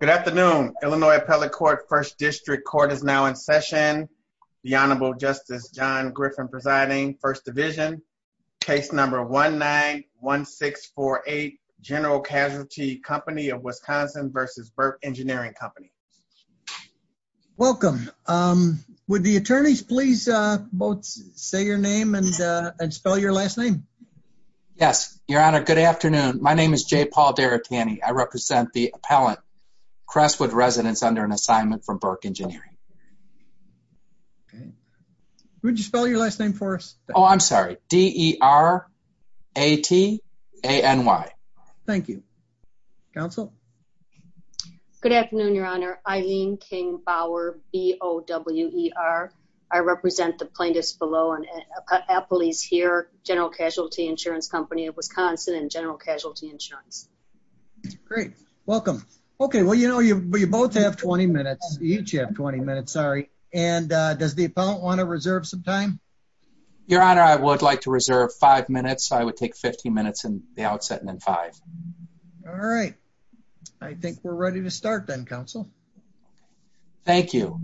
Good afternoon, Illinois Appellate Court, 1st District Court is now in session. The Honorable Justice John Griffin presiding, 1st Division, case number 1-9-1-6-4-8, General Casualty Company of Wisconsin v. Burke Engineering Company. Welcome. Would the attorneys please both say your name and spell your last name? Yes, Your Honor, good afternoon. My name is J. Paul Derricani. I represent the appellant, Crestwood Residence, under an assignment from Burke Engineering. Would you spell your last name for us? Oh, I'm sorry, D-E-R-A-T-A-N-Y. Thank you. Counsel? Good afternoon, Your Honor. Eileen King Bower, B-O-W-E-R. I represent the plaintiffs below, Appley's here, General Casualty Insurance Company of Wisconsin. Great. Welcome. Okay. Well, you know, you both have 20 minutes. Each have 20 minutes. Sorry. And does the appellant want to reserve some time? Your Honor, I would like to reserve five minutes. I would take 15 minutes in the outset and then five. All right. I think we're ready to start then, Counsel. Thank you.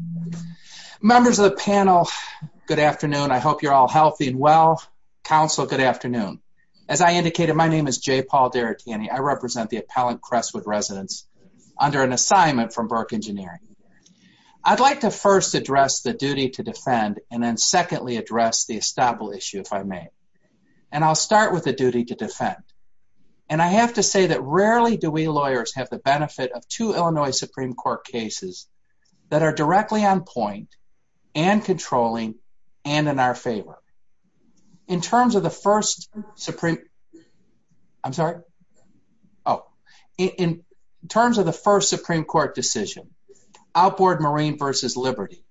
Members of the panel, good afternoon. I hope you're all healthy and well. Counsel, good afternoon. As I indicated, my name is J. Paul Derricani. I represent the appellant, Crestwood Residence, under an assignment from Burke Engineering. I'd like to first address the duty to defend and then secondly address the estoppel issue, if I may. And I'll start with the duty to defend. And I have to say that rarely do we lawyers have the benefit of two Illinois Supreme Court cases that are directly on point and controlling and in our favor. In terms of the first Supreme Court decision, Outboard Marine v. Liberty,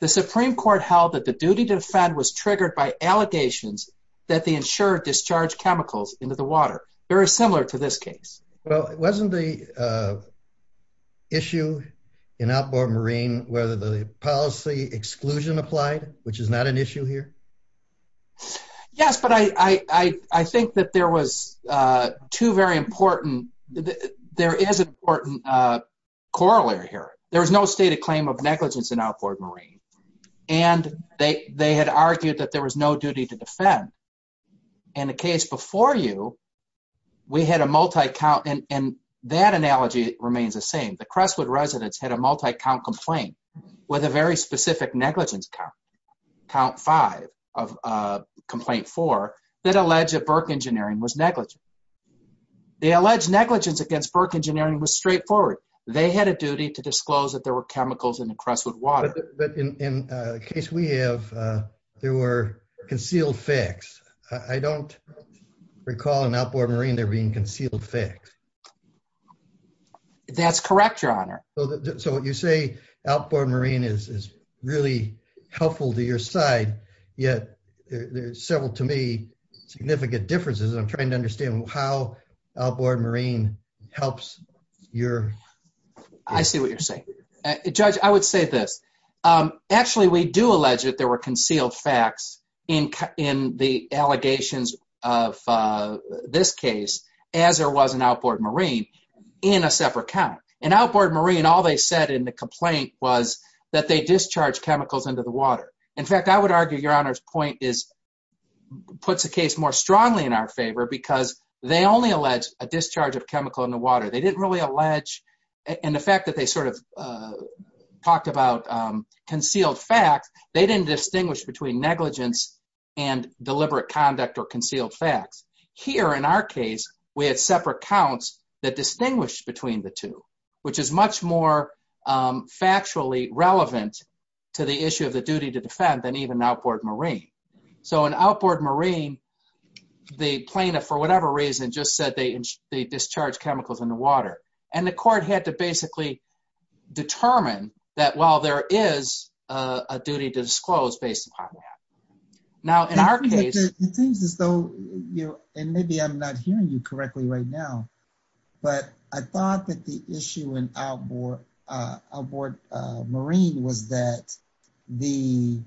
the Supreme Court held that the duty to defend was triggered by allegations that they insured discharged chemicals into the water, very similar to this case. Well, wasn't the issue in Outboard Marine where the policy exclusion applied, which is not an issue here? Yes, but I think that there was two very important, there is an important corollary here. There was no stated claim of negligence in Outboard Marine. And they had argued that there was no duty to defend. In the case before you, we had a multi-count, and that analogy remains the same. The Crestwood residents had a multi-count complaint with a very specific negligence count, count five of complaint four, that alleged that Burke Engineering was negligent. The alleged negligence against Burke Engineering was straightforward. They had a duty to disclose that there were chemicals in the Crestwood water. But in the case we have, there were concealed facts. I don't recall in Outboard Marine there being concealed facts. That's correct, Your Honor. So what you say, Outboard Marine is really helpful to your side, yet there's several to me significant differences. I'm trying to understand how Outboard Marine helps your... I see what you're saying. Judge, I would say this, actually, we do allege that there were concealed facts in the allegations of this case, as there was in Outboard Marine, in a separate count. In Outboard Marine, all they said in the complaint was that they discharged chemicals into the water. In fact, I would argue Your Honor's point puts the case more strongly in our favor because they only alleged a discharge of chemical in the water. They didn't really allege... And the fact that they sort of talked about concealed facts, they didn't distinguish between concealed facts. Here, in our case, we had separate counts that distinguished between the two, which is much more factually relevant to the issue of the duty to defend than even Outboard Marine. So in Outboard Marine, the plaintiff, for whatever reason, just said they discharged chemicals in the water. And the court had to basically determine that while there is a duty to disclose based upon that. Now, in our case... It seems as though, and maybe I'm not hearing you correctly right now, but I thought that the issue in Outboard Marine was that it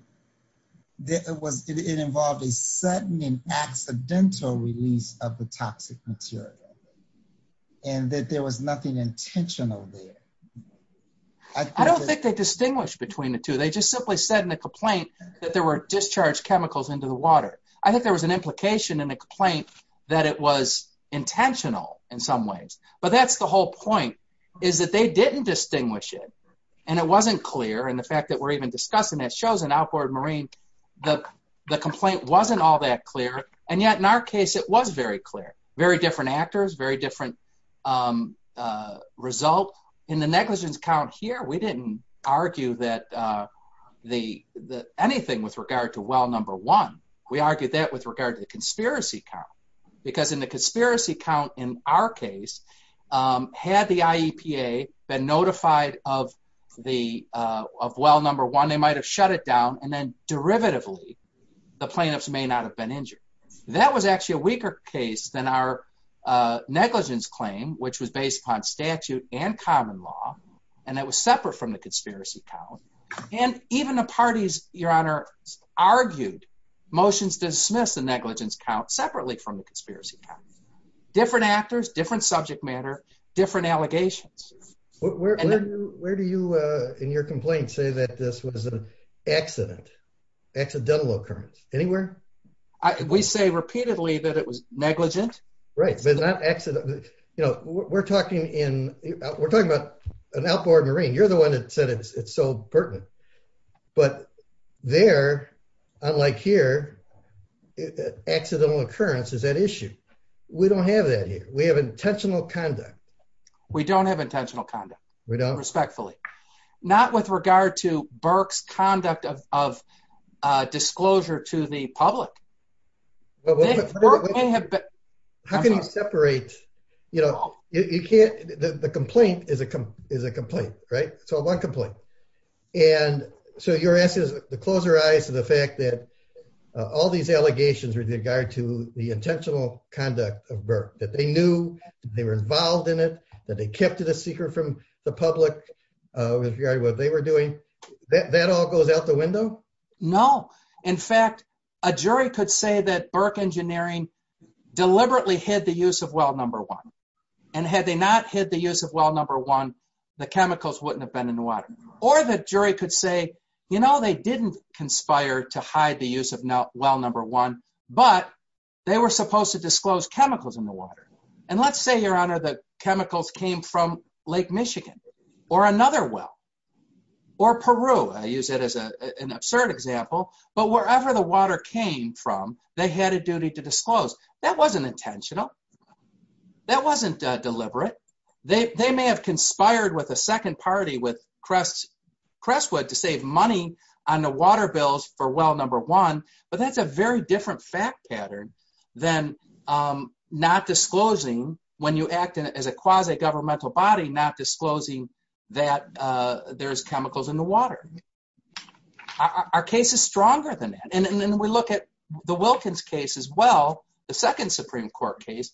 involved a sudden and accidental release of the toxic material, and that there was nothing intentional there. I don't think they distinguished between the two. They just simply said in the complaint that there were discharged chemicals into the water. I think there was an implication in the complaint that it was intentional in some ways. But that's the whole point, is that they didn't distinguish it. And it wasn't clear. And the fact that we're even discussing it shows in Outboard Marine, the complaint wasn't all that clear. And yet, in our case, it was very clear. Very different actors, very different result. In the negligence count here, we didn't argue anything with regard to well number one. We argued that with regard to the conspiracy count, because in the conspiracy count in our case, had the IEPA been notified of well number one, they might have shut it down. And then derivatively, the plaintiffs may not have been injured. That was actually a weaker case than our negligence claim, which was based upon statute and common law. And that was separate from the conspiracy count. And even the parties, Your Honor, argued motions dismiss the negligence count separately from the conspiracy count. Different actors, different subject matter, different allegations. Where do you, in your complaint, say that this was an accident, accidental occurrence? Anywhere? We say repeatedly that it was negligent. Right. But not accident. You know, we're talking about an outboard marine. You're the one that said it's so pertinent. But there, unlike here, accidental occurrence is at issue. We don't have that here. We have intentional conduct. We don't have intentional conduct. We don't. Respectfully. Not with regard to Burke's conduct of disclosure to the public. How can you separate, you know, you can't, the complaint is a complaint, right? So one complaint. And so your answer is, the closer eyes to the fact that all these allegations with regard to the intentional conduct of Burke, that they knew they were involved in it, that they kept it a secret from the public, with regard to what they were doing, that all goes out the window? No. In fact, a jury could say that Burke Engineering deliberately hid the use of well number one. And had they not hid the use of well number one, the chemicals wouldn't have been in the water. Or the jury could say, you know, they didn't conspire to hide the use of well number one, but they were supposed to disclose chemicals in the water. And let's say, Your Honor, that chemicals came from Lake Michigan, or another well, or Peru. I use it as an absurd example. But wherever the water came from, they had a duty to disclose. That wasn't intentional. That wasn't deliberate. They may have conspired with a second party, with Crestwood, to save money on the water bills for well number one, but that's a very different fact pattern than not disclosing, when you act as a quasi-governmental body, not disclosing that there's chemicals in the water. Our case is stronger than that. And then we look at the Wilkins case as well, the second Supreme Court case,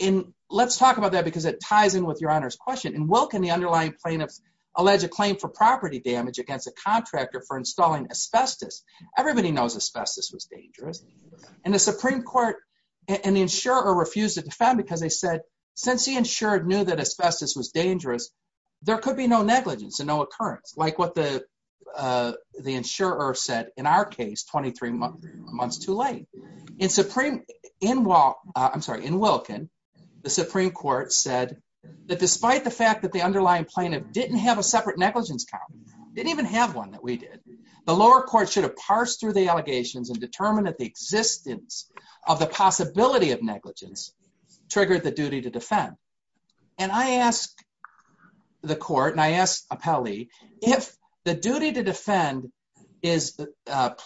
and let's talk about that because it ties in with Your Honor's question. In Wilkin, the underlying plaintiffs allege a claim for property damage against a contractor for installing asbestos. Everybody knows asbestos was dangerous. And the Supreme Court, and the insurer refused to defend because they said, since the insurer knew that asbestos was dangerous, there could be no negligence and no occurrence, like what the insurer said, in our case, 23 months too late. In Wilkin, the Supreme Court said that despite the fact that the underlying plaintiff didn't have a separate negligence count, didn't even have one that we did, the lower court should have parsed through the allegations and determined that the existence of the possibility of negligence triggered the duty to defend. And I ask the court, and I ask appellee, if the duty to defend is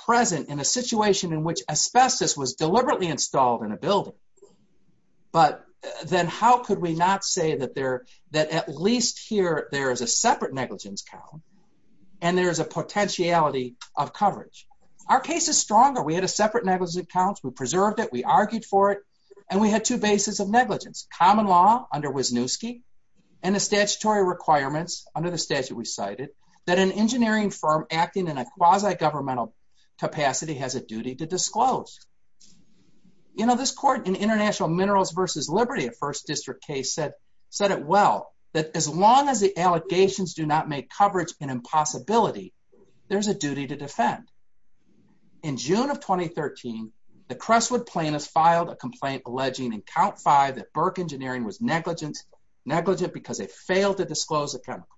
present in a situation in which asbestos was deliberately installed in a building, but then how could we not say that at least here there is a separate negligence count and there is a potentiality of coverage? Our case is stronger. We had a separate negligence count, we preserved it, we argued for it, and we had two bases of negligence, common law under Wisniewski and the statutory requirements under the statute we cited, that an engineering firm acting in a quasi-governmental capacity has a duty to disclose. You know, this court in International Minerals versus Liberty, a first district case, said it well, that as long as the allegations do not make coverage an impossibility, there's a duty to defend. In June of 2013, the Crestwood plaintiffs filed a complaint alleging in count five that Burke Engineering was negligent because they failed to disclose the chemicals.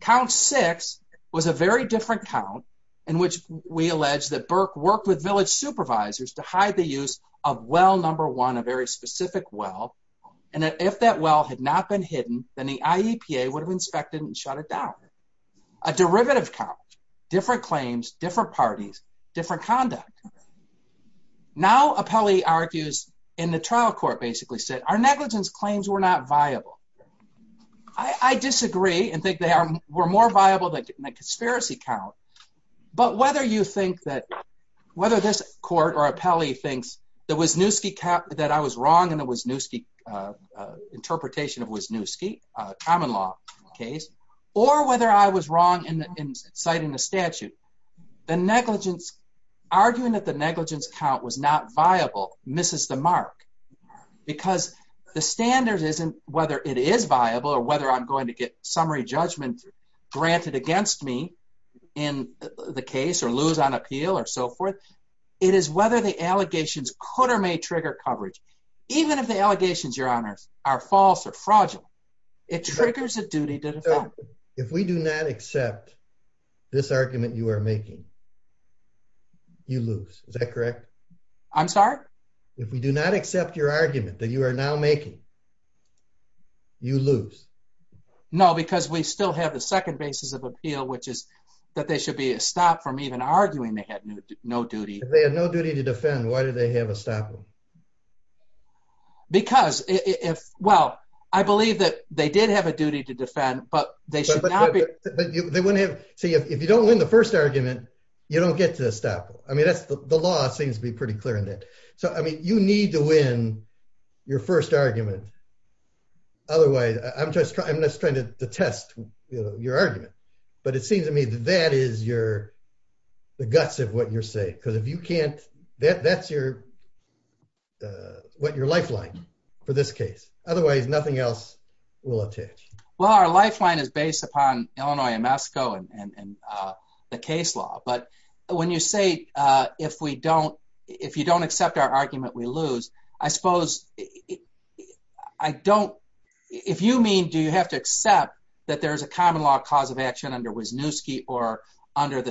Count six was a very different count in which we allege that Burke worked with village supervisors to hide the use of well number one, a very specific well, and that if that well had not been hidden, then the IEPA would have inspected and shut it down. A derivative count, different claims, different parties, different conduct. Now Apelli argues in the trial court basically said, our negligence claims were not viable. I disagree and think they were more viable than a conspiracy count, but whether you think that, whether this court or Apelli thinks that Wisniewski, that I was wrong in the Wisniewski, interpretation of Wisniewski, a common law case, or whether I was wrong in citing the statute, the negligence, arguing that the negligence count was not viable misses the mark because the standard isn't whether it is viable or whether I'm going to get summary judgment granted against me in the case or lose on appeal or so forth. It is whether the allegations could or may trigger coverage. Even if the allegations, your honors, are false or fragile, it triggers a duty to defend. If we do not accept this argument you are making, you lose. Is that correct? I'm sorry? If we do not accept your argument that you are now making, you lose. No, because we still have the second basis of appeal, which is that they should be stopped from even arguing they had no duty. If they had no duty to defend, why did they have a stopple? Because, well, I believe that they did have a duty to defend, but they should not be. But they wouldn't have, see, if you don't win the first argument, you don't get to the stopple. I mean, that's the law seems to be pretty clear in that. So, I mean, you need to win your first argument. Otherwise, I'm just trying to test your argument, but it seems to me that that is your the guts of what you're saying, because if you can't, that's your what your lifeline for this case. Otherwise, nothing else will attach. Well, our lifeline is based upon Illinois and Moscow and the case law. But when you say if we don't if you don't accept our argument, we lose. I suppose I don't if you mean, do you have to accept that there is a common law cause of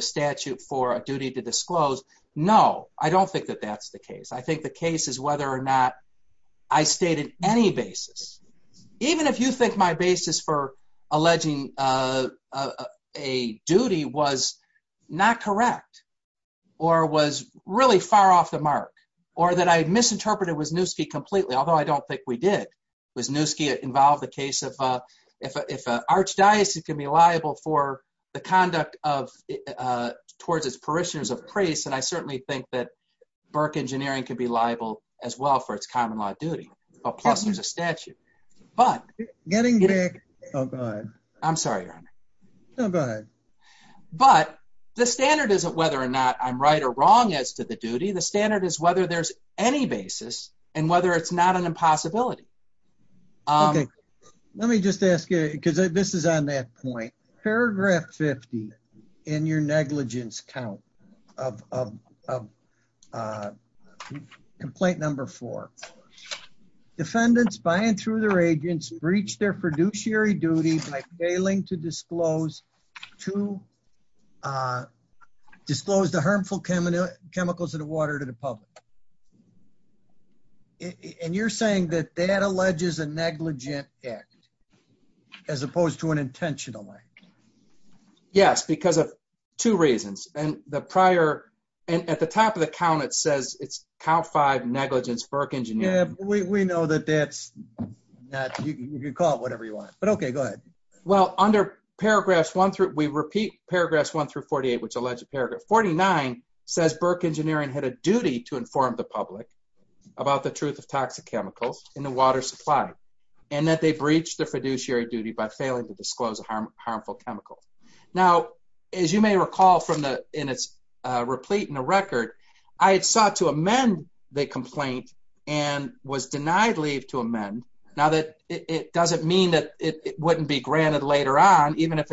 statute for a duty to disclose? No, I don't think that that's the case. I think the case is whether or not I stated any basis, even if you think my basis for alleging a duty was not correct or was really far off the mark or that I misinterpreted Wisniewski completely, although I don't think we did. Wisniewski involved the case of if an archdiocese can be liable for the conduct of towards its parishioners of praise. And I certainly think that Burke engineering could be liable as well for its common law duty. Plus, there's a statute. But getting back. Oh, God, I'm sorry. No, go ahead. But the standard isn't whether or not I'm right or wrong as to the duty. The standard is whether there's any basis and whether it's not an impossibility. Um, let me just ask you, because this is on that point, paragraph 50 in your negligence count of complaint number four, defendants by and through their agents breached their fiduciary duty by failing to disclose to disclose the harmful chemicals in the water to public. And you're saying that that alleges a negligent act as opposed to an intentional act? Yes, because of two reasons, and the prior and at the top of the count, it says it's count five negligence. Burke engineering. We know that that's not you can call it whatever you want, but OK, go ahead. Well, under paragraphs one through we repeat paragraphs one through 48, which is that the defendant had a duty to inform the public about the truth of toxic chemicals in the water supply and that they breached their fiduciary duty by failing to disclose a harmful chemical. Now, as you may recall from the in its replete in the record, I had sought to amend the complaint and was denied leave to amend now that it doesn't mean that it wouldn't be or I'm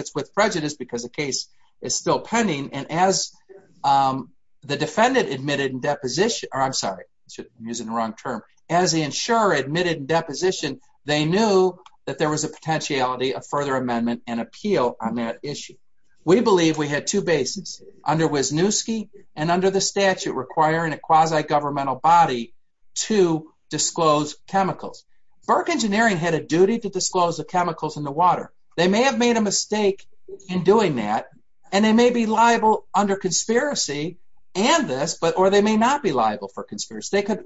sorry, I'm using the wrong term as the insurer admitted in deposition. They knew that there was a potentiality of further amendment and appeal on that issue. We believe we had two bases under Wisniewski and under the statute requiring a quasi governmental body to disclose chemicals. Burke engineering had a duty to disclose the chemicals in the water. They may have made a mistake in doing that, and they may be liable under conspiracy and this, but or they may not be liable for conspiracy. They could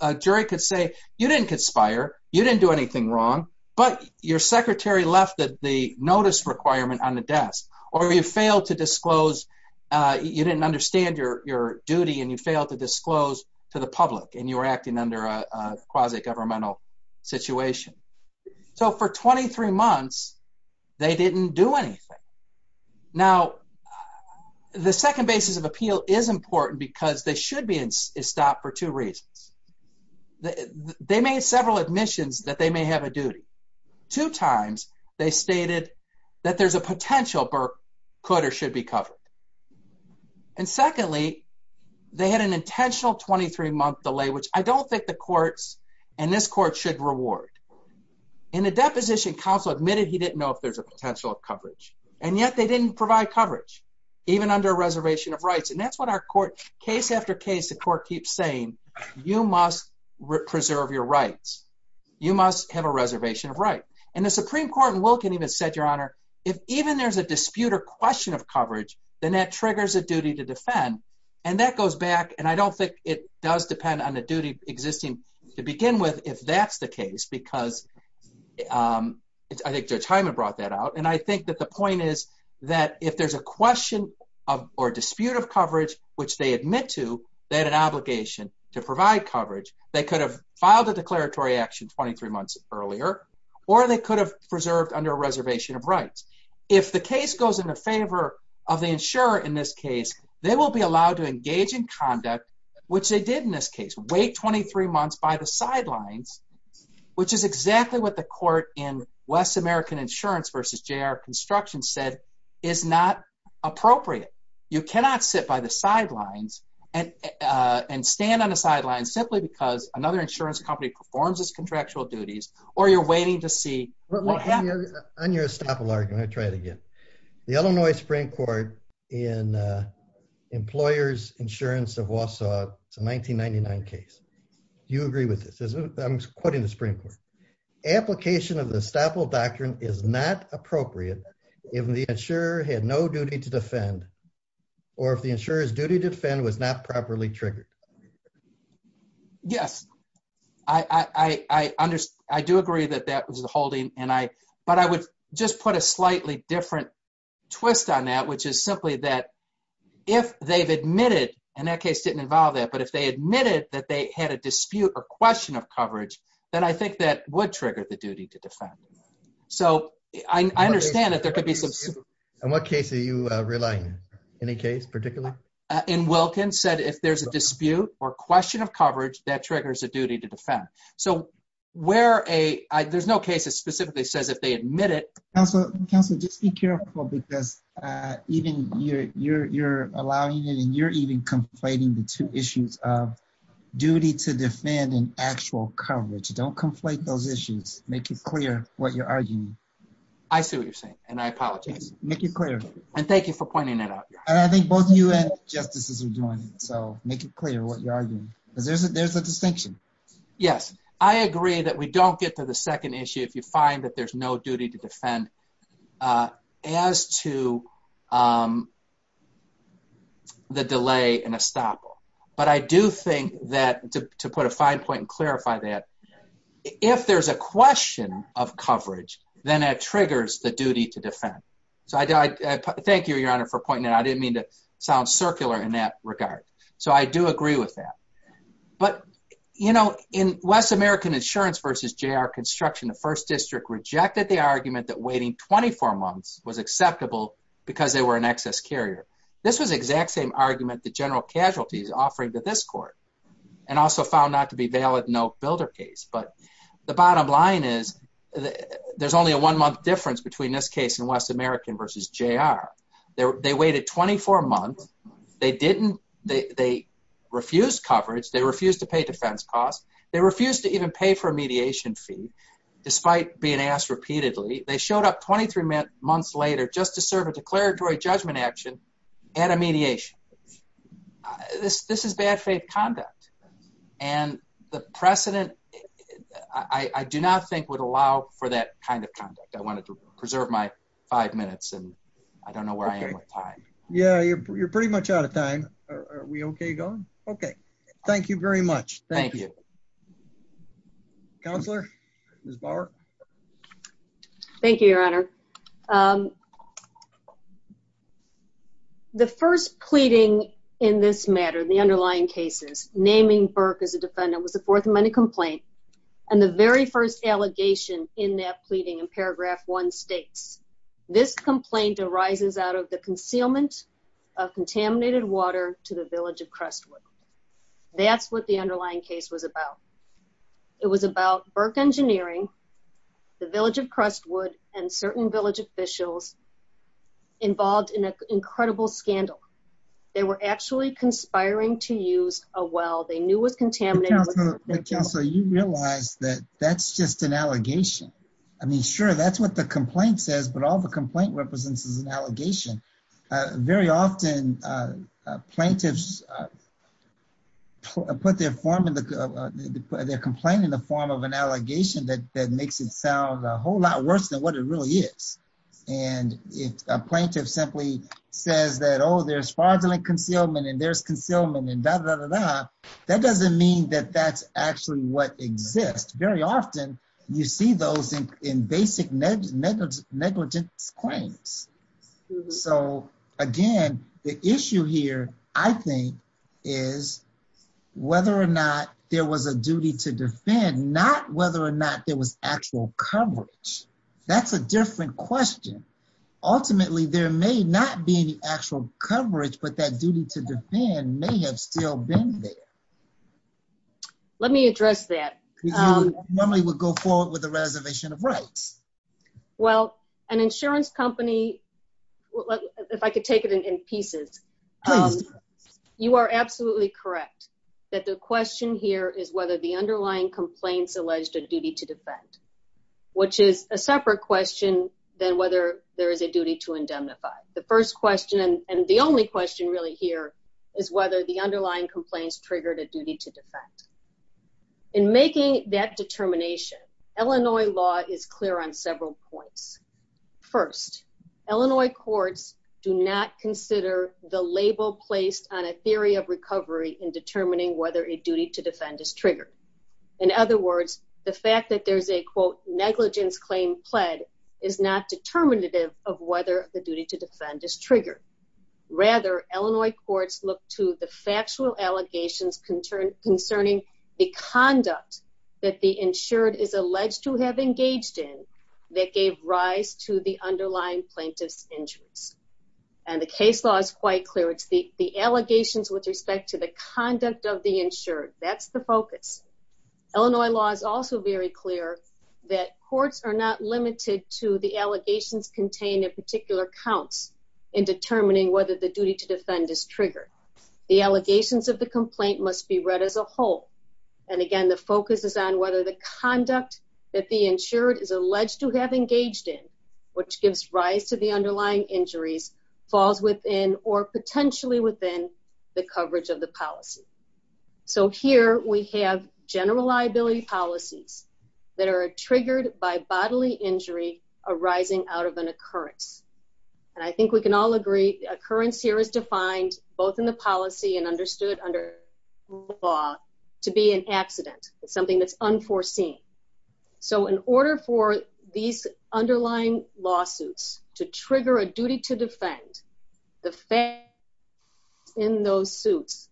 a jury could say you didn't conspire, you didn't do anything wrong, but your secretary left the notice requirement on the desk or you failed to disclose. You didn't understand your duty and you failed to disclose to the public and you were acting under a quasi governmental situation. So for 23 months, they didn't do anything. Now, the second basis of appeal is important because they should be stopped for two reasons. They made several admissions that they may have a duty. Two times they stated that there's a potential Burke could or should be covered. And secondly, they had an intentional 23 month delay, which I don't think the courts and this court should reward in a deposition council admitted he didn't know if there's a duty to defend. And yet they didn't provide coverage even under a reservation of rights. And that's what our court case after case, the court keeps saying, you must preserve your rights. You must have a reservation of right. And the Supreme Court and Wilkin even said, your honor, if even there's a dispute or question of coverage, then that triggers a duty to defend. And that goes back. And I don't think it does depend on the duty existing to begin with if that's the case, because I think Judge Hyman brought that out. And I think that the point is that if there's a question of or dispute of coverage, which they admit to that an obligation to provide coverage, they could have filed a declaratory action 23 months earlier or they could have preserved under a reservation of rights. If the case goes in the favor of the insurer in this case, they will be allowed to engage in conduct, which they did in this case, wait 23 months by the sidelines, which is exactly what the court in West American Insurance versus J.R. Construction said is not appropriate. You cannot sit by the sidelines and and stand on the sidelines simply because another insurance company performs its contractual duties or you're waiting to see what happens. On your estoppel argument, I'll try it again. The Illinois Supreme Court in Employers Insurance of Wausau, it's a 1999 case. You agree with this, isn't it? I'm quoting the Supreme Court. Application of the estoppel doctrine is not appropriate if the insurer had no duty to defend or if the insurer's duty to defend was not properly triggered. Yes, I understand, I do agree that that was the holding and I but I would just put a twist on that, which is simply that if they've admitted and that case didn't involve that, but if they admitted that they had a dispute or question of coverage, then I think that would trigger the duty to defend. So I understand that there could be some. In what case are you relying? Any case particularly? In Wilkins said if there's a dispute or question of coverage that triggers a duty to defend. So where a there's no case that specifically says if they admit it. Also, counsel, just be careful because even you're you're you're allowing it and you're even conflating the two issues of duty to defend and actual coverage. Don't conflate those issues. Make it clear what you're arguing. I see what you're saying and I apologize. Make it clear. And thank you for pointing it out. And I think both you and justices are doing so. Make it clear what you're arguing because there's a there's a distinction. Yes, I agree that we don't get to the second issue if you find that there's no duty to defend as to. The delay in a stop, but I do think that to put a fine point and clarify that if there's a question of coverage, then it triggers the duty to defend. So I thank you, Your Honor, for pointing out. I didn't mean to sound circular in that regard. So I do agree with that. But, you know, in West American Insurance versus J.R. Construction, the first district rejected the argument that waiting 24 months was acceptable because they were an excess carrier. This was the exact same argument the general casualties offering to this court and also found not to be valid. No builder case. But the bottom line is there's only a one month difference between this case in West American versus J.R. They waited 24 months. They didn't. They refused coverage. They refused to pay defense costs. They refused to even pay for a mediation fee despite being asked repeatedly. They showed up 23 months later just to serve a declaratory judgment action and a mediation. This is bad faith conduct. And the precedent, I do not think, would allow for that kind of conduct. I wanted to preserve my five minutes and I don't know where I am with time. Yeah, you're pretty much out of time. Are we OK? Go. OK. Thank you very much. Thank you. Counselor, Ms. Bauer. Thank you, Your Honor. The first pleading in this matter, the underlying cases naming Burke as a defendant was the Fourth Amendment complaint. And the very first allegation in that pleading in paragraph one states this complaint arises out of the concealment of contaminated water to the village of Crestwood. That's what the underlying case was about. It was about Burke Engineering, the village of Crestwood, and certain village officials involved in an incredible scandal. They were actually conspiring to use a well they knew was contaminated. But, Counselor, you realize that that's just an allegation. I mean, sure, that's what the complaint says, but all the complaint represents is an allegation. Very often, plaintiffs put their form of their complaint in the form of an allegation that makes it sound a whole lot worse than what it really is. And if a plaintiff simply says that, oh, there's fraudulent concealment and there's concealment and da, da, da, da, that doesn't mean that that's actually what exists. Very often you see those in basic negligence claims. So, again, the issue here, I think, is whether or not there was a duty to defend, not whether or not there was actual coverage. That's a different question. Ultimately, there may not be any actual coverage, but that duty to defend may have still been there. Let me address that. Normally, we would go forward with a reservation of rights. Well, an insurance company, if I could take it in pieces, you are absolutely correct that the question here is whether the underlying complaints alleged a duty to defend, which is a separate question than whether there is a duty to indemnify. In making that determination, Illinois law is clear on several points. First, Illinois courts do not consider the label placed on a theory of recovery in determining whether a duty to defend is triggered. In other words, the fact that there's a, quote, negligence claim pled is not determinative of whether the duty to defend is triggered. Rather, Illinois courts look to the factual allegations concerning the conduct that the insured is alleged to have engaged in that gave rise to the underlying plaintiff's injuries. And the case law is quite clear. It's the allegations with respect to the conduct of the insured. That's the focus. Illinois law is also very clear that courts are not limited to the allegations contained in particular counts in determining whether the duty to defend is triggered. The allegations of the complaint must be read as a whole. And again, the focus is on whether the conduct that the insured is alleged to have engaged in, which gives rise to the underlying injuries, falls within or potentially within the coverage of the policy. So here we have general liability policies that are triggered by bodily injury arising out of an occurrence. And I think we can all agree occurrence here is defined both in the policy and understood under law to be an accident. It's something that's unforeseen. So in order for these underlying lawsuits to trigger a duty to defend the fact in those suits,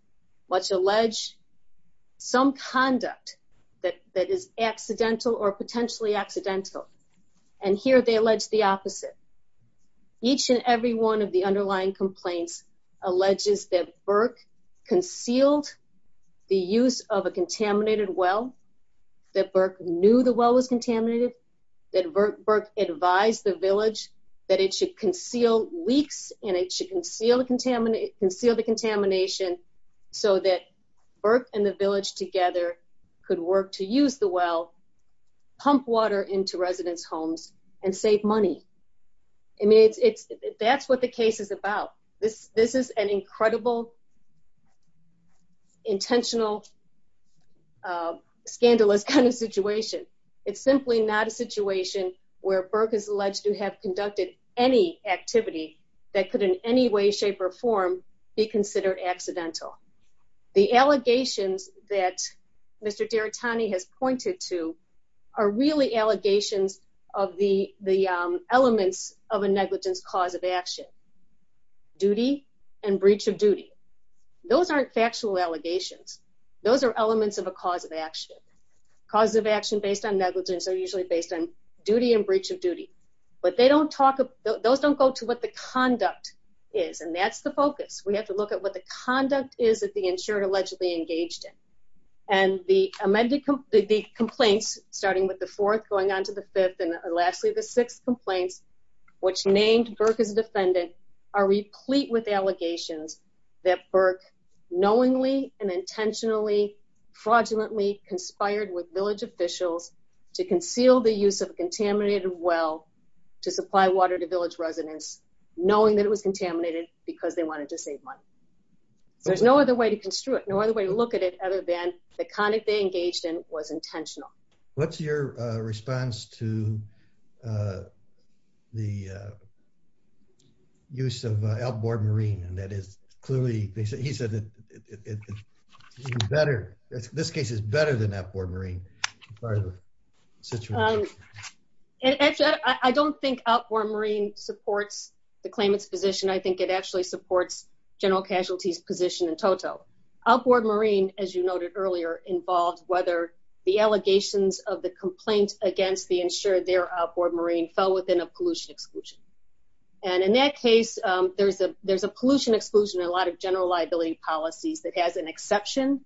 what's alleged some conduct that that is accidental or potentially accidental. And here they allege the opposite. Each and every one of the underlying complaints alleges that Burke concealed the use of a contaminated well, that Burke knew the well was contaminated, that Burke advised the village that it should conceal leaks and it should conceal the contaminate, conceal the contamination so that Burke and the village together could work to use the well, pump water into residents' homes and save money. I mean, it's, it's, that's what the case is about. This, this is an incredible intentional, uh, scandalous kind of situation. It's simply not a situation where Burke is alleged to have conducted any activity that could in any way, shape or form be considered accidental. The allegations that Mr. Derritani has pointed to are really allegations of the, the elements of a negligence cause of action, duty and breach of duty. Those aren't factual allegations. Those are elements of a cause of action. Causes of action based on negligence are usually based on duty and breach of duty, but they don't talk, those don't go to what the conduct is. And that's the focus. We have to look at what the conduct is that the insured allegedly engaged in. And the amended, the complaints starting with the fourth, going on to the fifth and lastly, the sixth complaints, which named Burke as a defendant are replete with allegations that Burke knowingly and intentionally, fraudulently conspired with village officials to conceal the use of a contaminated well to supply water to village residents, knowing that it was contaminated because they wanted to save money. So there's no other way to construe it. No other way to look at it other than the conduct they engaged in was intentional. What's your response to the use of outboard marine? And that is clearly, they said, he said that it's better. This case is better than outboard marine. And actually, I don't think outboard marine supports the claimant's position. I think it actually supports general casualties position in total. Outboard marine, as you noted earlier, involved whether the allegations of the complaint against the insured, their outboard marine fell within a pollution exclusion. And in that case, there's a, there's a pollution exclusion, a lot of general liability policies that has an exception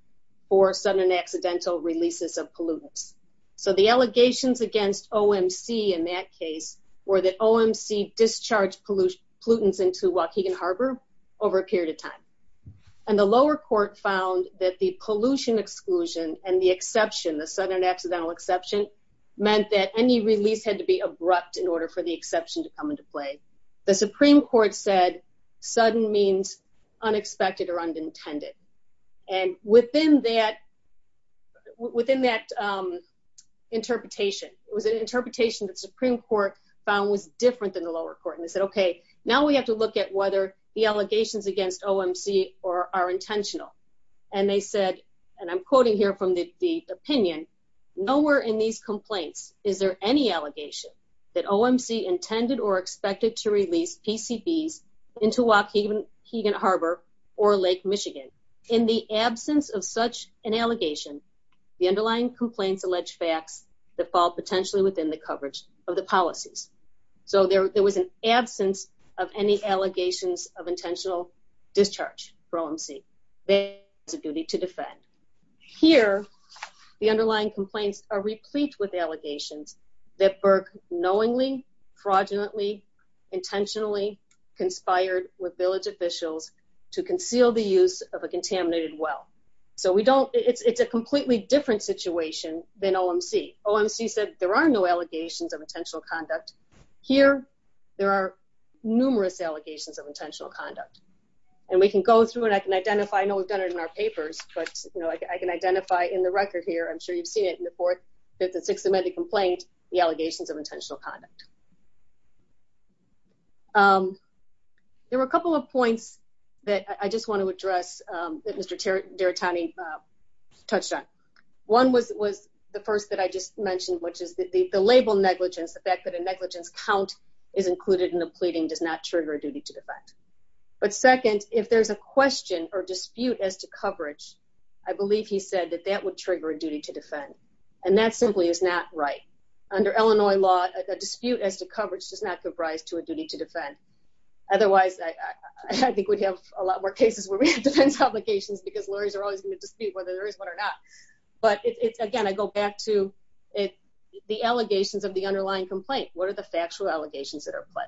for sudden and accidental releases of pollutants. So the allegations against OMC in that case were that OMC discharged pollutants into Waukegan Harbor over a period of time. And the lower court found that the pollution exclusion and the exception, the sudden and accidental exception, meant that any release had to be abrupt in order for the exception to come into play. The Supreme Court said sudden means unexpected or unintended. And within that, within that interpretation, it was an interpretation the Supreme Court found was different than the lower court. And they said, okay, now we have to look at whether the allegations against OMC are intentional. And they said, and I'm quoting here from the opinion, nowhere in these complaints is there any allegation that OMC intended or expected to release PCBs into Waukegan Harbor or Lake Michigan. In the absence of such an allegation, the underlying complaints allege facts that fall potentially within the coverage of the policies. So there, there was an absence of any allegations of intentional discharge for OMC. They have a duty to defend. Here, the underlying complaints are replete with allegations that Burke knowingly, fraudulently, intentionally conspired with village officials to conceal the use of a contaminated well. So we don't, it's a completely different situation than OMC. OMC said there are no allegations of intentional conduct. Here, there are numerous allegations of intentional conduct. And we can go through and I can identify, I know we've done it in our papers, but, you know, I can identify in the record here, I'm sure you've seen it in the fourth, fifth, and sixth amendment complaint, the allegations of intentional conduct. There were a couple of points that I just want to address that Mr. Daratani touched on. One was, was the first that I just mentioned, which is the label negligence, the fact that a negligence count is included in the pleading does not trigger a duty to defend. But second, if there's a question or dispute as to coverage, I believe he said that that would trigger a duty to defend. And that simply is not right. Under Illinois law, a dispute as to coverage does not give rise to a duty to defend. Otherwise, I think we'd have a lot more cases where we have defense obligations because lawyers are always going to dispute whether there is one or not. But it's, again, I go back to it, the allegations of the underlying complaint. What are the factual allegations that are put?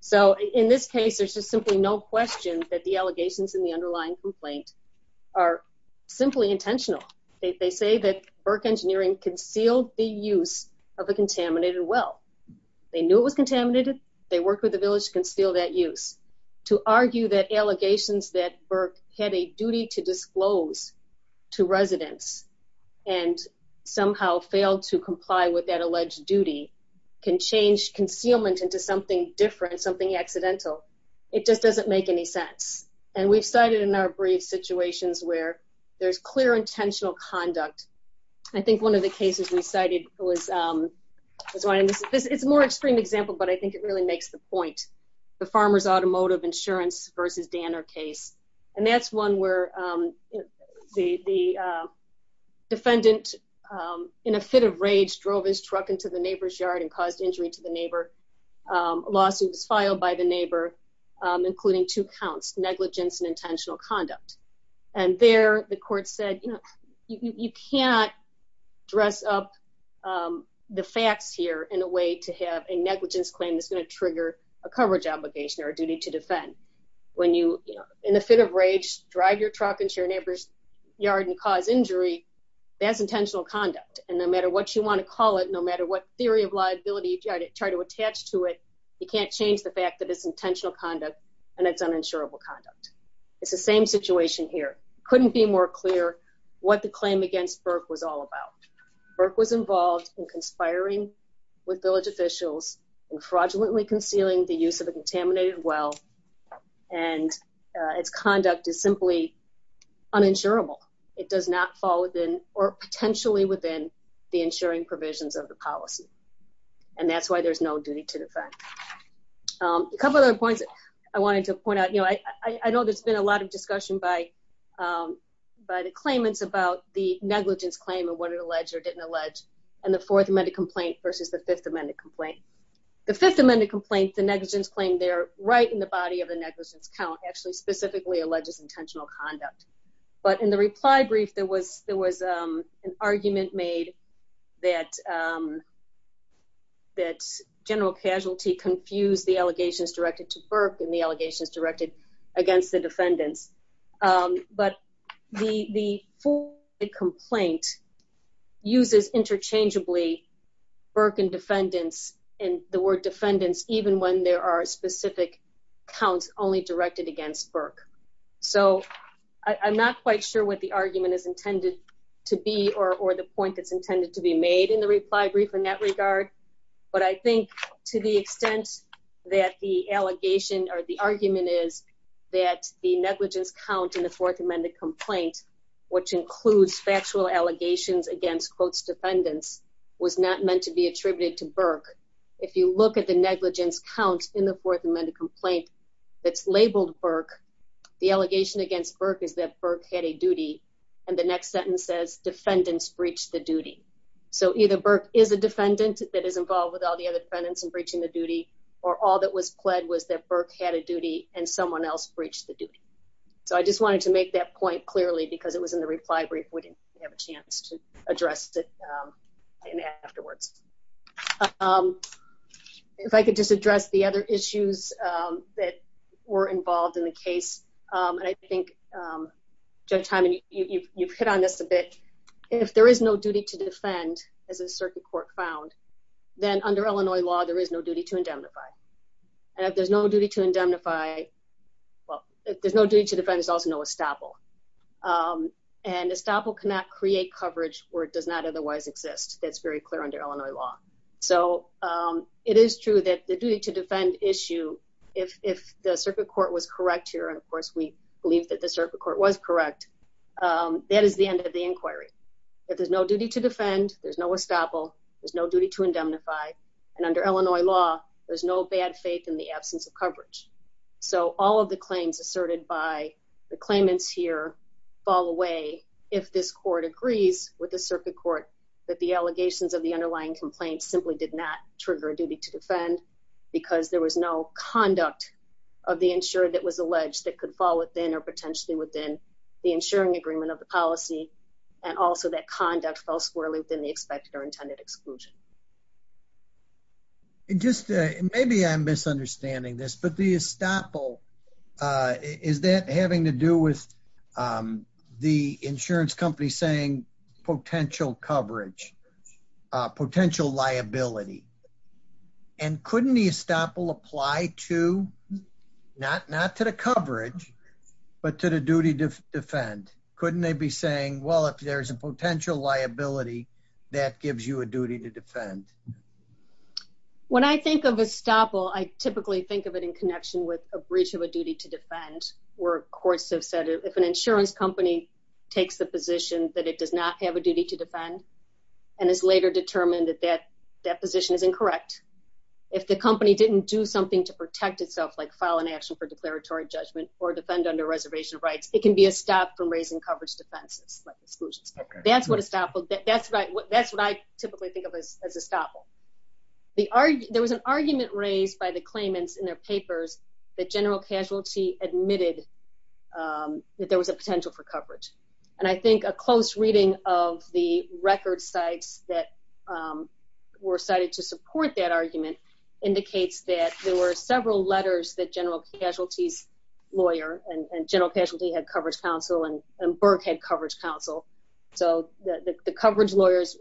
So in this case, there's just simply no question that the allegations in the underlying complaint are simply intentional. They say that Burke Engineering concealed the use of a contaminated well. They knew it was contaminated. They worked with the village to conceal that use. To argue that allegations that Burke had a duty to disclose to residents and somehow failed to comply with that alleged duty can change concealment into something different, something accidental. It just doesn't make any sense. And we've cited in our brief situations where there's clear intentional conduct. I think one of the cases we cited was, it's a more extreme example, but I think it really makes the point. The Farmers Automotive Insurance versus Danner case. And that's one where the defendant, in a fit of rage, drove his truck to a neighbor's yard and caused injury. And the neighbor's neighbor's car was found to have been a good driver. A lawsuit was filed by the neighbor, including two counts, negligence and intentional conduct. And there, the court said, you know, you can't dress up the facts here in a way to have a negligence claim that's going to trigger a coverage obligation or a duty to defend. When you, you know, in a fit of rage, drive your truck into your neighbor's yard and cause injury, that's intentional conduct. And no matter what you want to call it, no matter what theory of liability you try to attach to it, you can't change the fact that it's intentional conduct and it's uninsurable conduct. It's the same situation here. Couldn't be more clear what the claim against Burke was all about. Burke was involved in conspiring with village officials and fraudulently concealing the use of a contaminated well, and its conduct is simply uninsurable. It does not fall within, or potentially within, the insuring provisions of the policy. And that's why there's no duty to defend. A couple of other points I wanted to point out. You know, I know there's been a lot of discussion by the claimants about the negligence claim and what it alleged or didn't allege, and the Fourth Amendment complaint versus the Fifth Amendment complaint. The Fifth Amendment complaint, the negligence claim, they're right in the body of the negligence count, actually specifically alleges intentional conduct. But in the reply brief, there was an argument made that general casualty confused the allegations directed to Burke and the allegations directed against the defendants. But the complaint uses interchangeably Burke and defendants, and the word defendants, even when there are specific counts only directed against Burke. So, I'm not quite sure what the argument is intended to be or the point that's intended to be made in the reply brief in that regard. But I think to the extent that the allegation or the argument is that the negligence count in the Fourth Amendment complaint, which includes factual allegations against close defendants, was not meant to be attributed to Burke. If you look at the negligence count in the Fourth Amendment complaint that's labeled Burke, the allegation against Burke is that Burke had a duty, and the next sentence says defendants breached the duty. So, either Burke is a defendant that is involved with all the other defendants in breaching the duty, or all that was pled was that Burke had a duty and someone else breached the duty. So, I just wanted to make that point clearly because it was in the reply brief, we didn't have a chance to address it afterwards. If I could just address the other issues that were involved in the case. And I think, Judge Hyman, you've hit on this a bit, if there is no duty to defend as a circuit court found, then under Illinois law, there is no duty to indemnify. And if there's no duty to indemnify, well, if there's no duty to defend, there's also no estoppel. And estoppel cannot create coverage where it does not otherwise exist. That's very clear under Illinois law. So, it is true that the duty to defend issue, if the circuit court was correct here, and of course, we believe that the circuit court was correct, that is the end of the inquiry. If there's no duty to defend, there's no estoppel, there's no duty to indemnify. And under Illinois law, there's no bad faith in the absence of coverage. So, all of the claims asserted by the claimants here fall away if this court agrees with the circuit court that the allegations of the underlying complaint simply did not trigger a duty to defend because there was no conduct of the insurer that was alleged that could fall within or potentially within the insuring agreement of the policy. And also, that conduct fell squarely within the expected or intended exclusion. And just maybe I'm misunderstanding this, but the estoppel, is that having to do with the insurance company saying potential coverage, potential liability? And couldn't the estoppel apply to, not to the coverage, but to the duty to defend? Couldn't they be saying, well, if there's a potential liability, that gives you a duty to defend? When I think of estoppel, I typically think of it in connection with a breach of a duty to defend where courts have said if an insurance company takes the position that it does not have a duty to defend and is later determined that that position is incorrect, if the company didn't do something to protect itself, like file an action for declaratory judgment or defend under reservation rights, it can be a stop from raising coverage defenses, like exclusions. That's what estoppel, that's what I typically think of as estoppel. There was an argument raised by the claimants in their papers that General Casualty admitted that there was a potential for coverage. And I think a close reading of the record sites that were cited to support that argument indicates that there were several letters that General Casualty's lawyer and General Casualty had coverage counsel and Burke had coverage counsel. So, the coverage lawyers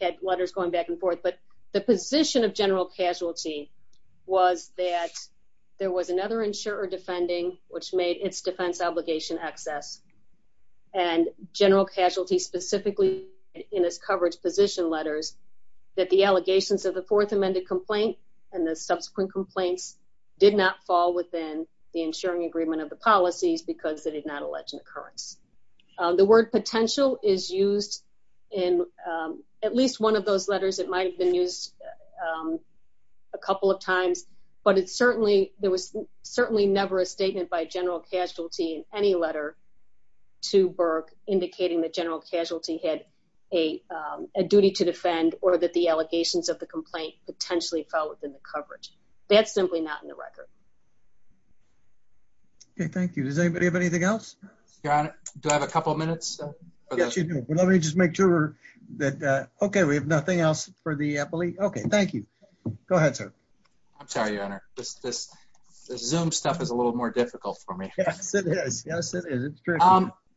had letters going back and forth. But the position of General Casualty was that there was another insurer defending which made its defense obligation excess. And General Casualty specifically in its coverage position letters that the allegations of the Fourth Amended Complaint and the subsequent complaints did not fall within the insuring agreement of the policies because they did not allege an occurrence. The word potential is used in at least one of those letters. It might have been used a couple of times, but it certainly, there was certainly never a statement by General Casualty in any letter to Burke indicating that General Casualty had a duty to defend or that the allegations of the complaint potentially fell within the coverage. That's simply not in the record. Okay, thank you. Does anybody have anything else? Your Honor, do I have a couple of minutes? Let me just make sure that, okay, we have nothing else for the appellee. Okay, thank you. Go ahead, sir. I'm sorry, Your Honor. This Zoom stuff is a little more difficult for me. Yes, it is. Yes, it is. It's true.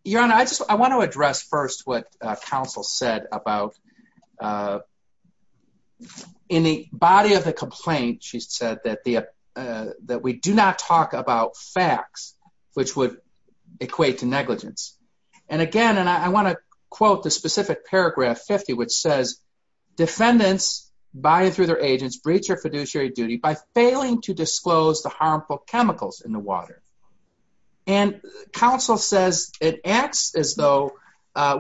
Your Honor, I just, I want to address first what counsel said about in the body of the complaint, she said, that we do not talk about facts, which would equate to negligence. And again, and I want to quote the specific paragraph 50, which says, defendants by and through their agents breach their fiduciary duty by failing to disclose the harmful chemicals in the water. And counsel says it acts as though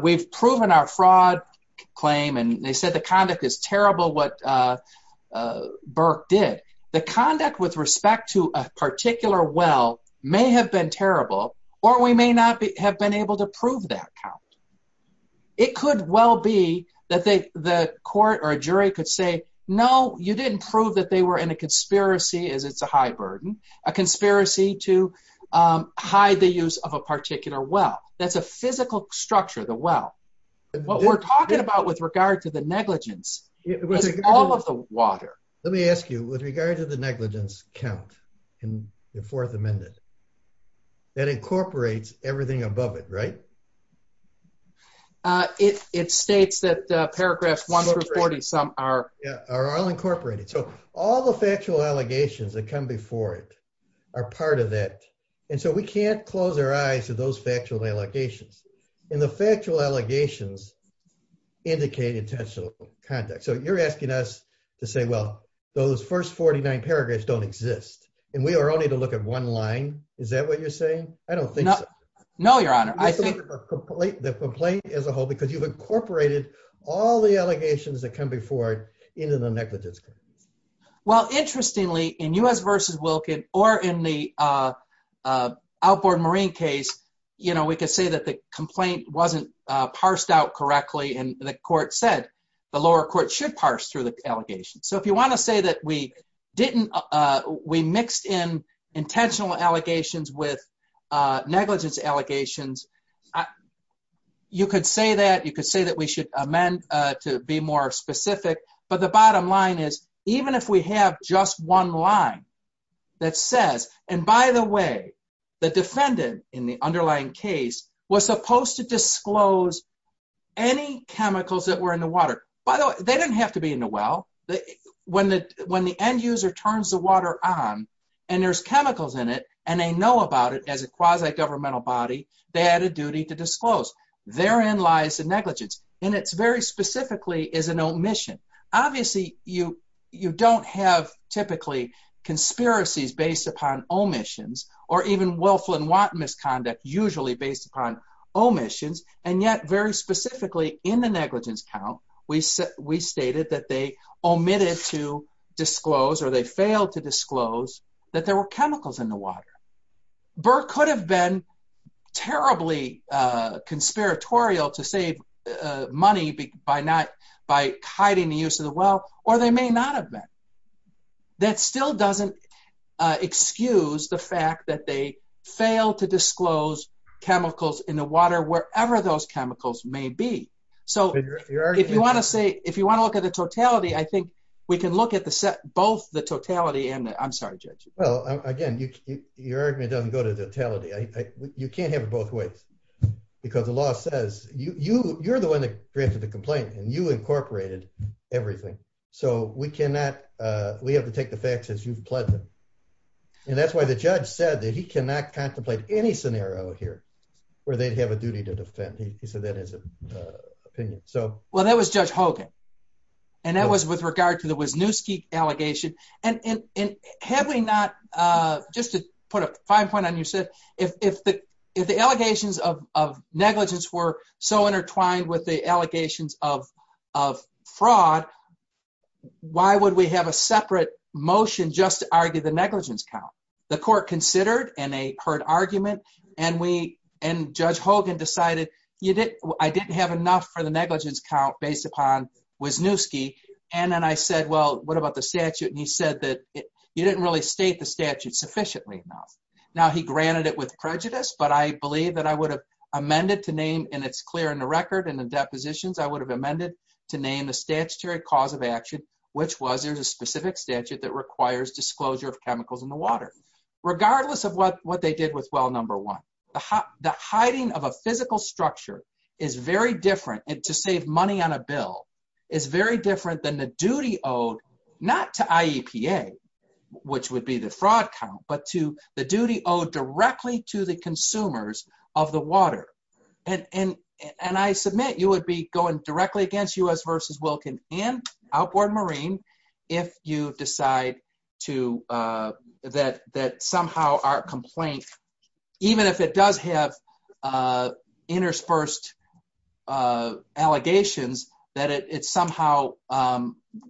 we've proven our fraud claim and they said the conduct is terrible what Burke did. The conduct with respect to a particular well may have been terrible or we may not have been able to prove that count. It could well be that the court or a jury could say, no, you didn't prove that they were in a conspiracy as it's a high burden, a conspiracy to hide the use of a particular well. That's a physical structure, the well. What we're talking about with regard to the negligence is all of the water. Let me ask you, with regard to the negligence count in the fourth amendment, that incorporates everything above it, right? It states that paragraphs 1 through 40 some are. Yeah, are all incorporated. So all the factual allegations that come before it are part of that. And so we can't close our eyes to those factual allegations. And the factual allegations indicate intentional conduct. So you're asking us to say, well, those first 49 paragraphs don't exist. And we are only to look at one line. Is that what you're saying? I don't think so. No, Your Honor. I think the complaint as a whole, because you've incorporated all the allegations that come before it into the negligence count. Well, interestingly, in U.S. versus Wilkin or in the outboard marine case, you know, we could say that the complaint wasn't parsed out correctly. And the court said the lower court should parse through the allegations. So if you want to say that we didn't, we mixed in intentional allegations with negligence allegations, you could say that. You could say that we should amend to be more specific. But the bottom line is, even if we have just one line that says, and by the way, the defendant in the underlying case was supposed to disclose any chemicals that were in the water. By the way, they didn't have to be in the well. When the end user turns the water on and there's chemicals in it and they know about it as a quasi-governmental body, they had a duty to disclose. Therein lies the negligence. And it very specifically is an omission. Obviously, you don't have typically conspiracies based upon omissions or even Wilflin-Watt misconduct usually based upon omissions. And yet, very specifically in the negligence count, we stated that they omitted to disclose or they failed to disclose that there were chemicals in the water. Burr could have been terribly conspiratorial to save money by hiding the use of the well, or they may not have been. That still doesn't excuse the fact that they failed to disclose chemicals in the water wherever those chemicals may be. So, if you want to say, if you want to look at the totality, I think we can look at the set, both the totality and the, I'm sorry, Judge. Well, again, your argument doesn't go to the totality. You can't have it both ways because the law says, you're the one that granted the complaint and you incorporated everything. So, we cannot, we have to take the facts as you've pledged them. And that's why the judge said that he cannot contemplate any scenario here where they'd have a duty to defend. He said that as an opinion. So. Well, that was Judge Hogan. And that was with regard to the Wisniewski allegation. And had we not, just to put a fine point on your set, if the allegations of negligence were so intertwined with the allegations of fraud, why would we have a separate motion just to argue the negligence count? The court considered and they heard argument. And we, and Judge Hogan decided, I didn't have enough for the negligence count based upon Wisniewski. And then I said, well, what about the statute? And he said that you didn't really state the statute sufficiently enough. Now, he granted it with prejudice, but I believe that I would have amended to name, and it's clear in the record in the depositions, I would have amended to name the statutory cause of action, which was there's a specific statute that requires disclosure of chemicals in the water. Regardless of what they did with well number one, the hiding of a physical structure is very different. And to save money on a bill is very different than the duty owed not to IEPA, which would be the fraud count, but to the duty owed directly to the consumers of the water. And I submit you would be going directly against U.S. versus Wilkin and Outboard Marine if you decide to that somehow our complaint, even if it does have interspersed allegations, that it somehow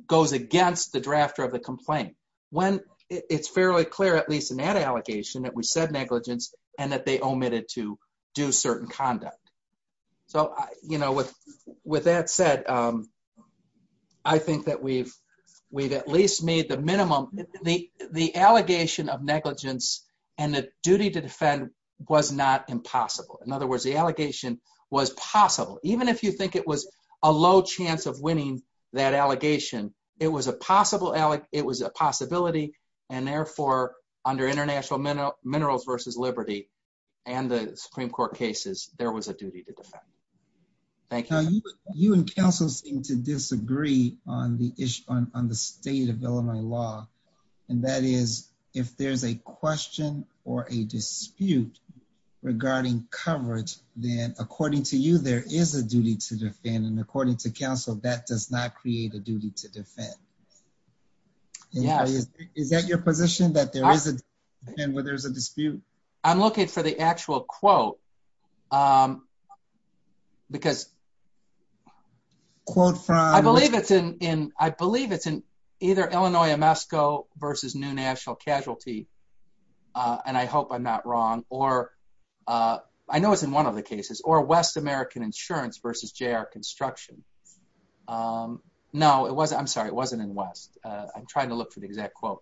goes against the drafter of the complaint. When it's fairly clear, at least in that allegation that we said negligence and that they omitted to do certain conduct. So, you know, with that said, I think that we've at least made the minimum. The allegation of negligence and the duty to defend was not impossible. In other words, the allegation was possible. Even if you think it was a low chance of winning that allegation, it was a possibility, and therefore under International Minerals versus Liberty and the Supreme Court cases, there was a duty to defend. Thank you. You and counsel seem to disagree on the state of Illinois law, and that is if there's a question or a dispute regarding coverage, then according to you, there is a duty to defend. And according to counsel, that does not create a duty to defend. Is that your position, that there is a dispute? I'm looking for the actual quote, because I believe it's in either Illinois Amasco versus New National Casualty, and I hope I'm not wrong, or I know it's in one of the cases, or West American Insurance versus JR Construction. No, it wasn't. I'm sorry. It wasn't in West. I'm trying to look for the exact quote.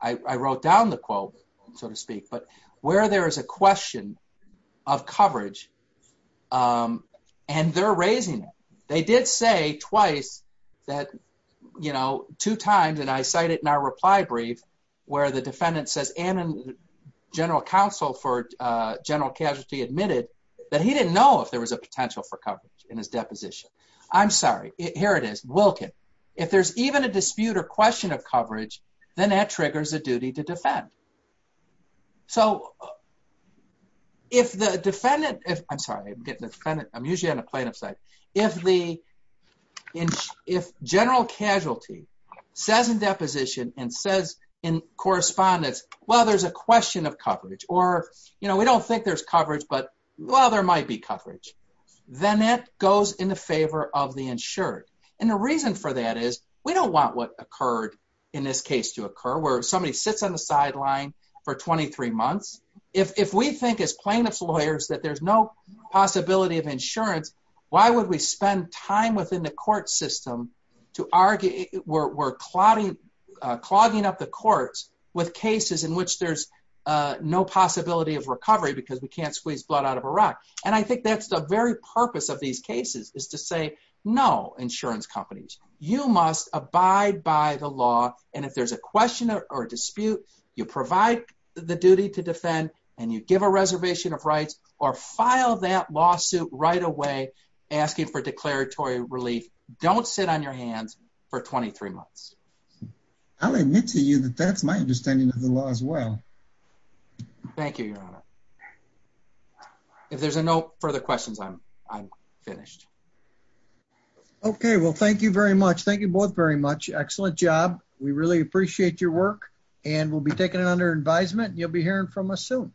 I wrote down the quote, so to speak, but where there is a question of coverage, and they're raising it. They did say twice that, you know, two times, and I cite it in our reply brief, where the defendant says, and general counsel for general casualty admitted that he didn't know if there was a potential for coverage in his deposition. I'm sorry. Here it is, Wilkin. If there's even a dispute or question of coverage, then that triggers a duty to defend. So, if the defendant, if, I'm sorry, I'm getting a defendant, I'm usually on a plaintiff side. If general casualty says in deposition and says in correspondence, well, there's a question of coverage, or, you know, we don't think there's coverage, but, well, there might be coverage, then that goes in the favor of the insured. And the reason for that is we don't want what occurred in this case to occur where somebody sits on the sideline for 23 months. If we think as plaintiff's lawyers that there's no possibility of insurance, why would we spend time within the court system to argue, we're clogging up the courts with cases in which there's no possibility of recovery because we can't squeeze blood out of a rock. And I think that's the very purpose of these cases is to say, no, insurance companies, you must abide by the law, and if there's a question or dispute, you provide the duty to defend, and you give a reservation of rights, or file that lawsuit right away asking for declaratory relief, don't sit on your hands for 23 months. I'll admit to you that that's my understanding of the law as well. Thank you, Your Honor. If there's no further questions, I'm finished. Okay. Well, thank you very much. Thank you both very much. Excellent job. We really appreciate your work, and we'll be taking it under advisement, and you'll be hearing from us soon.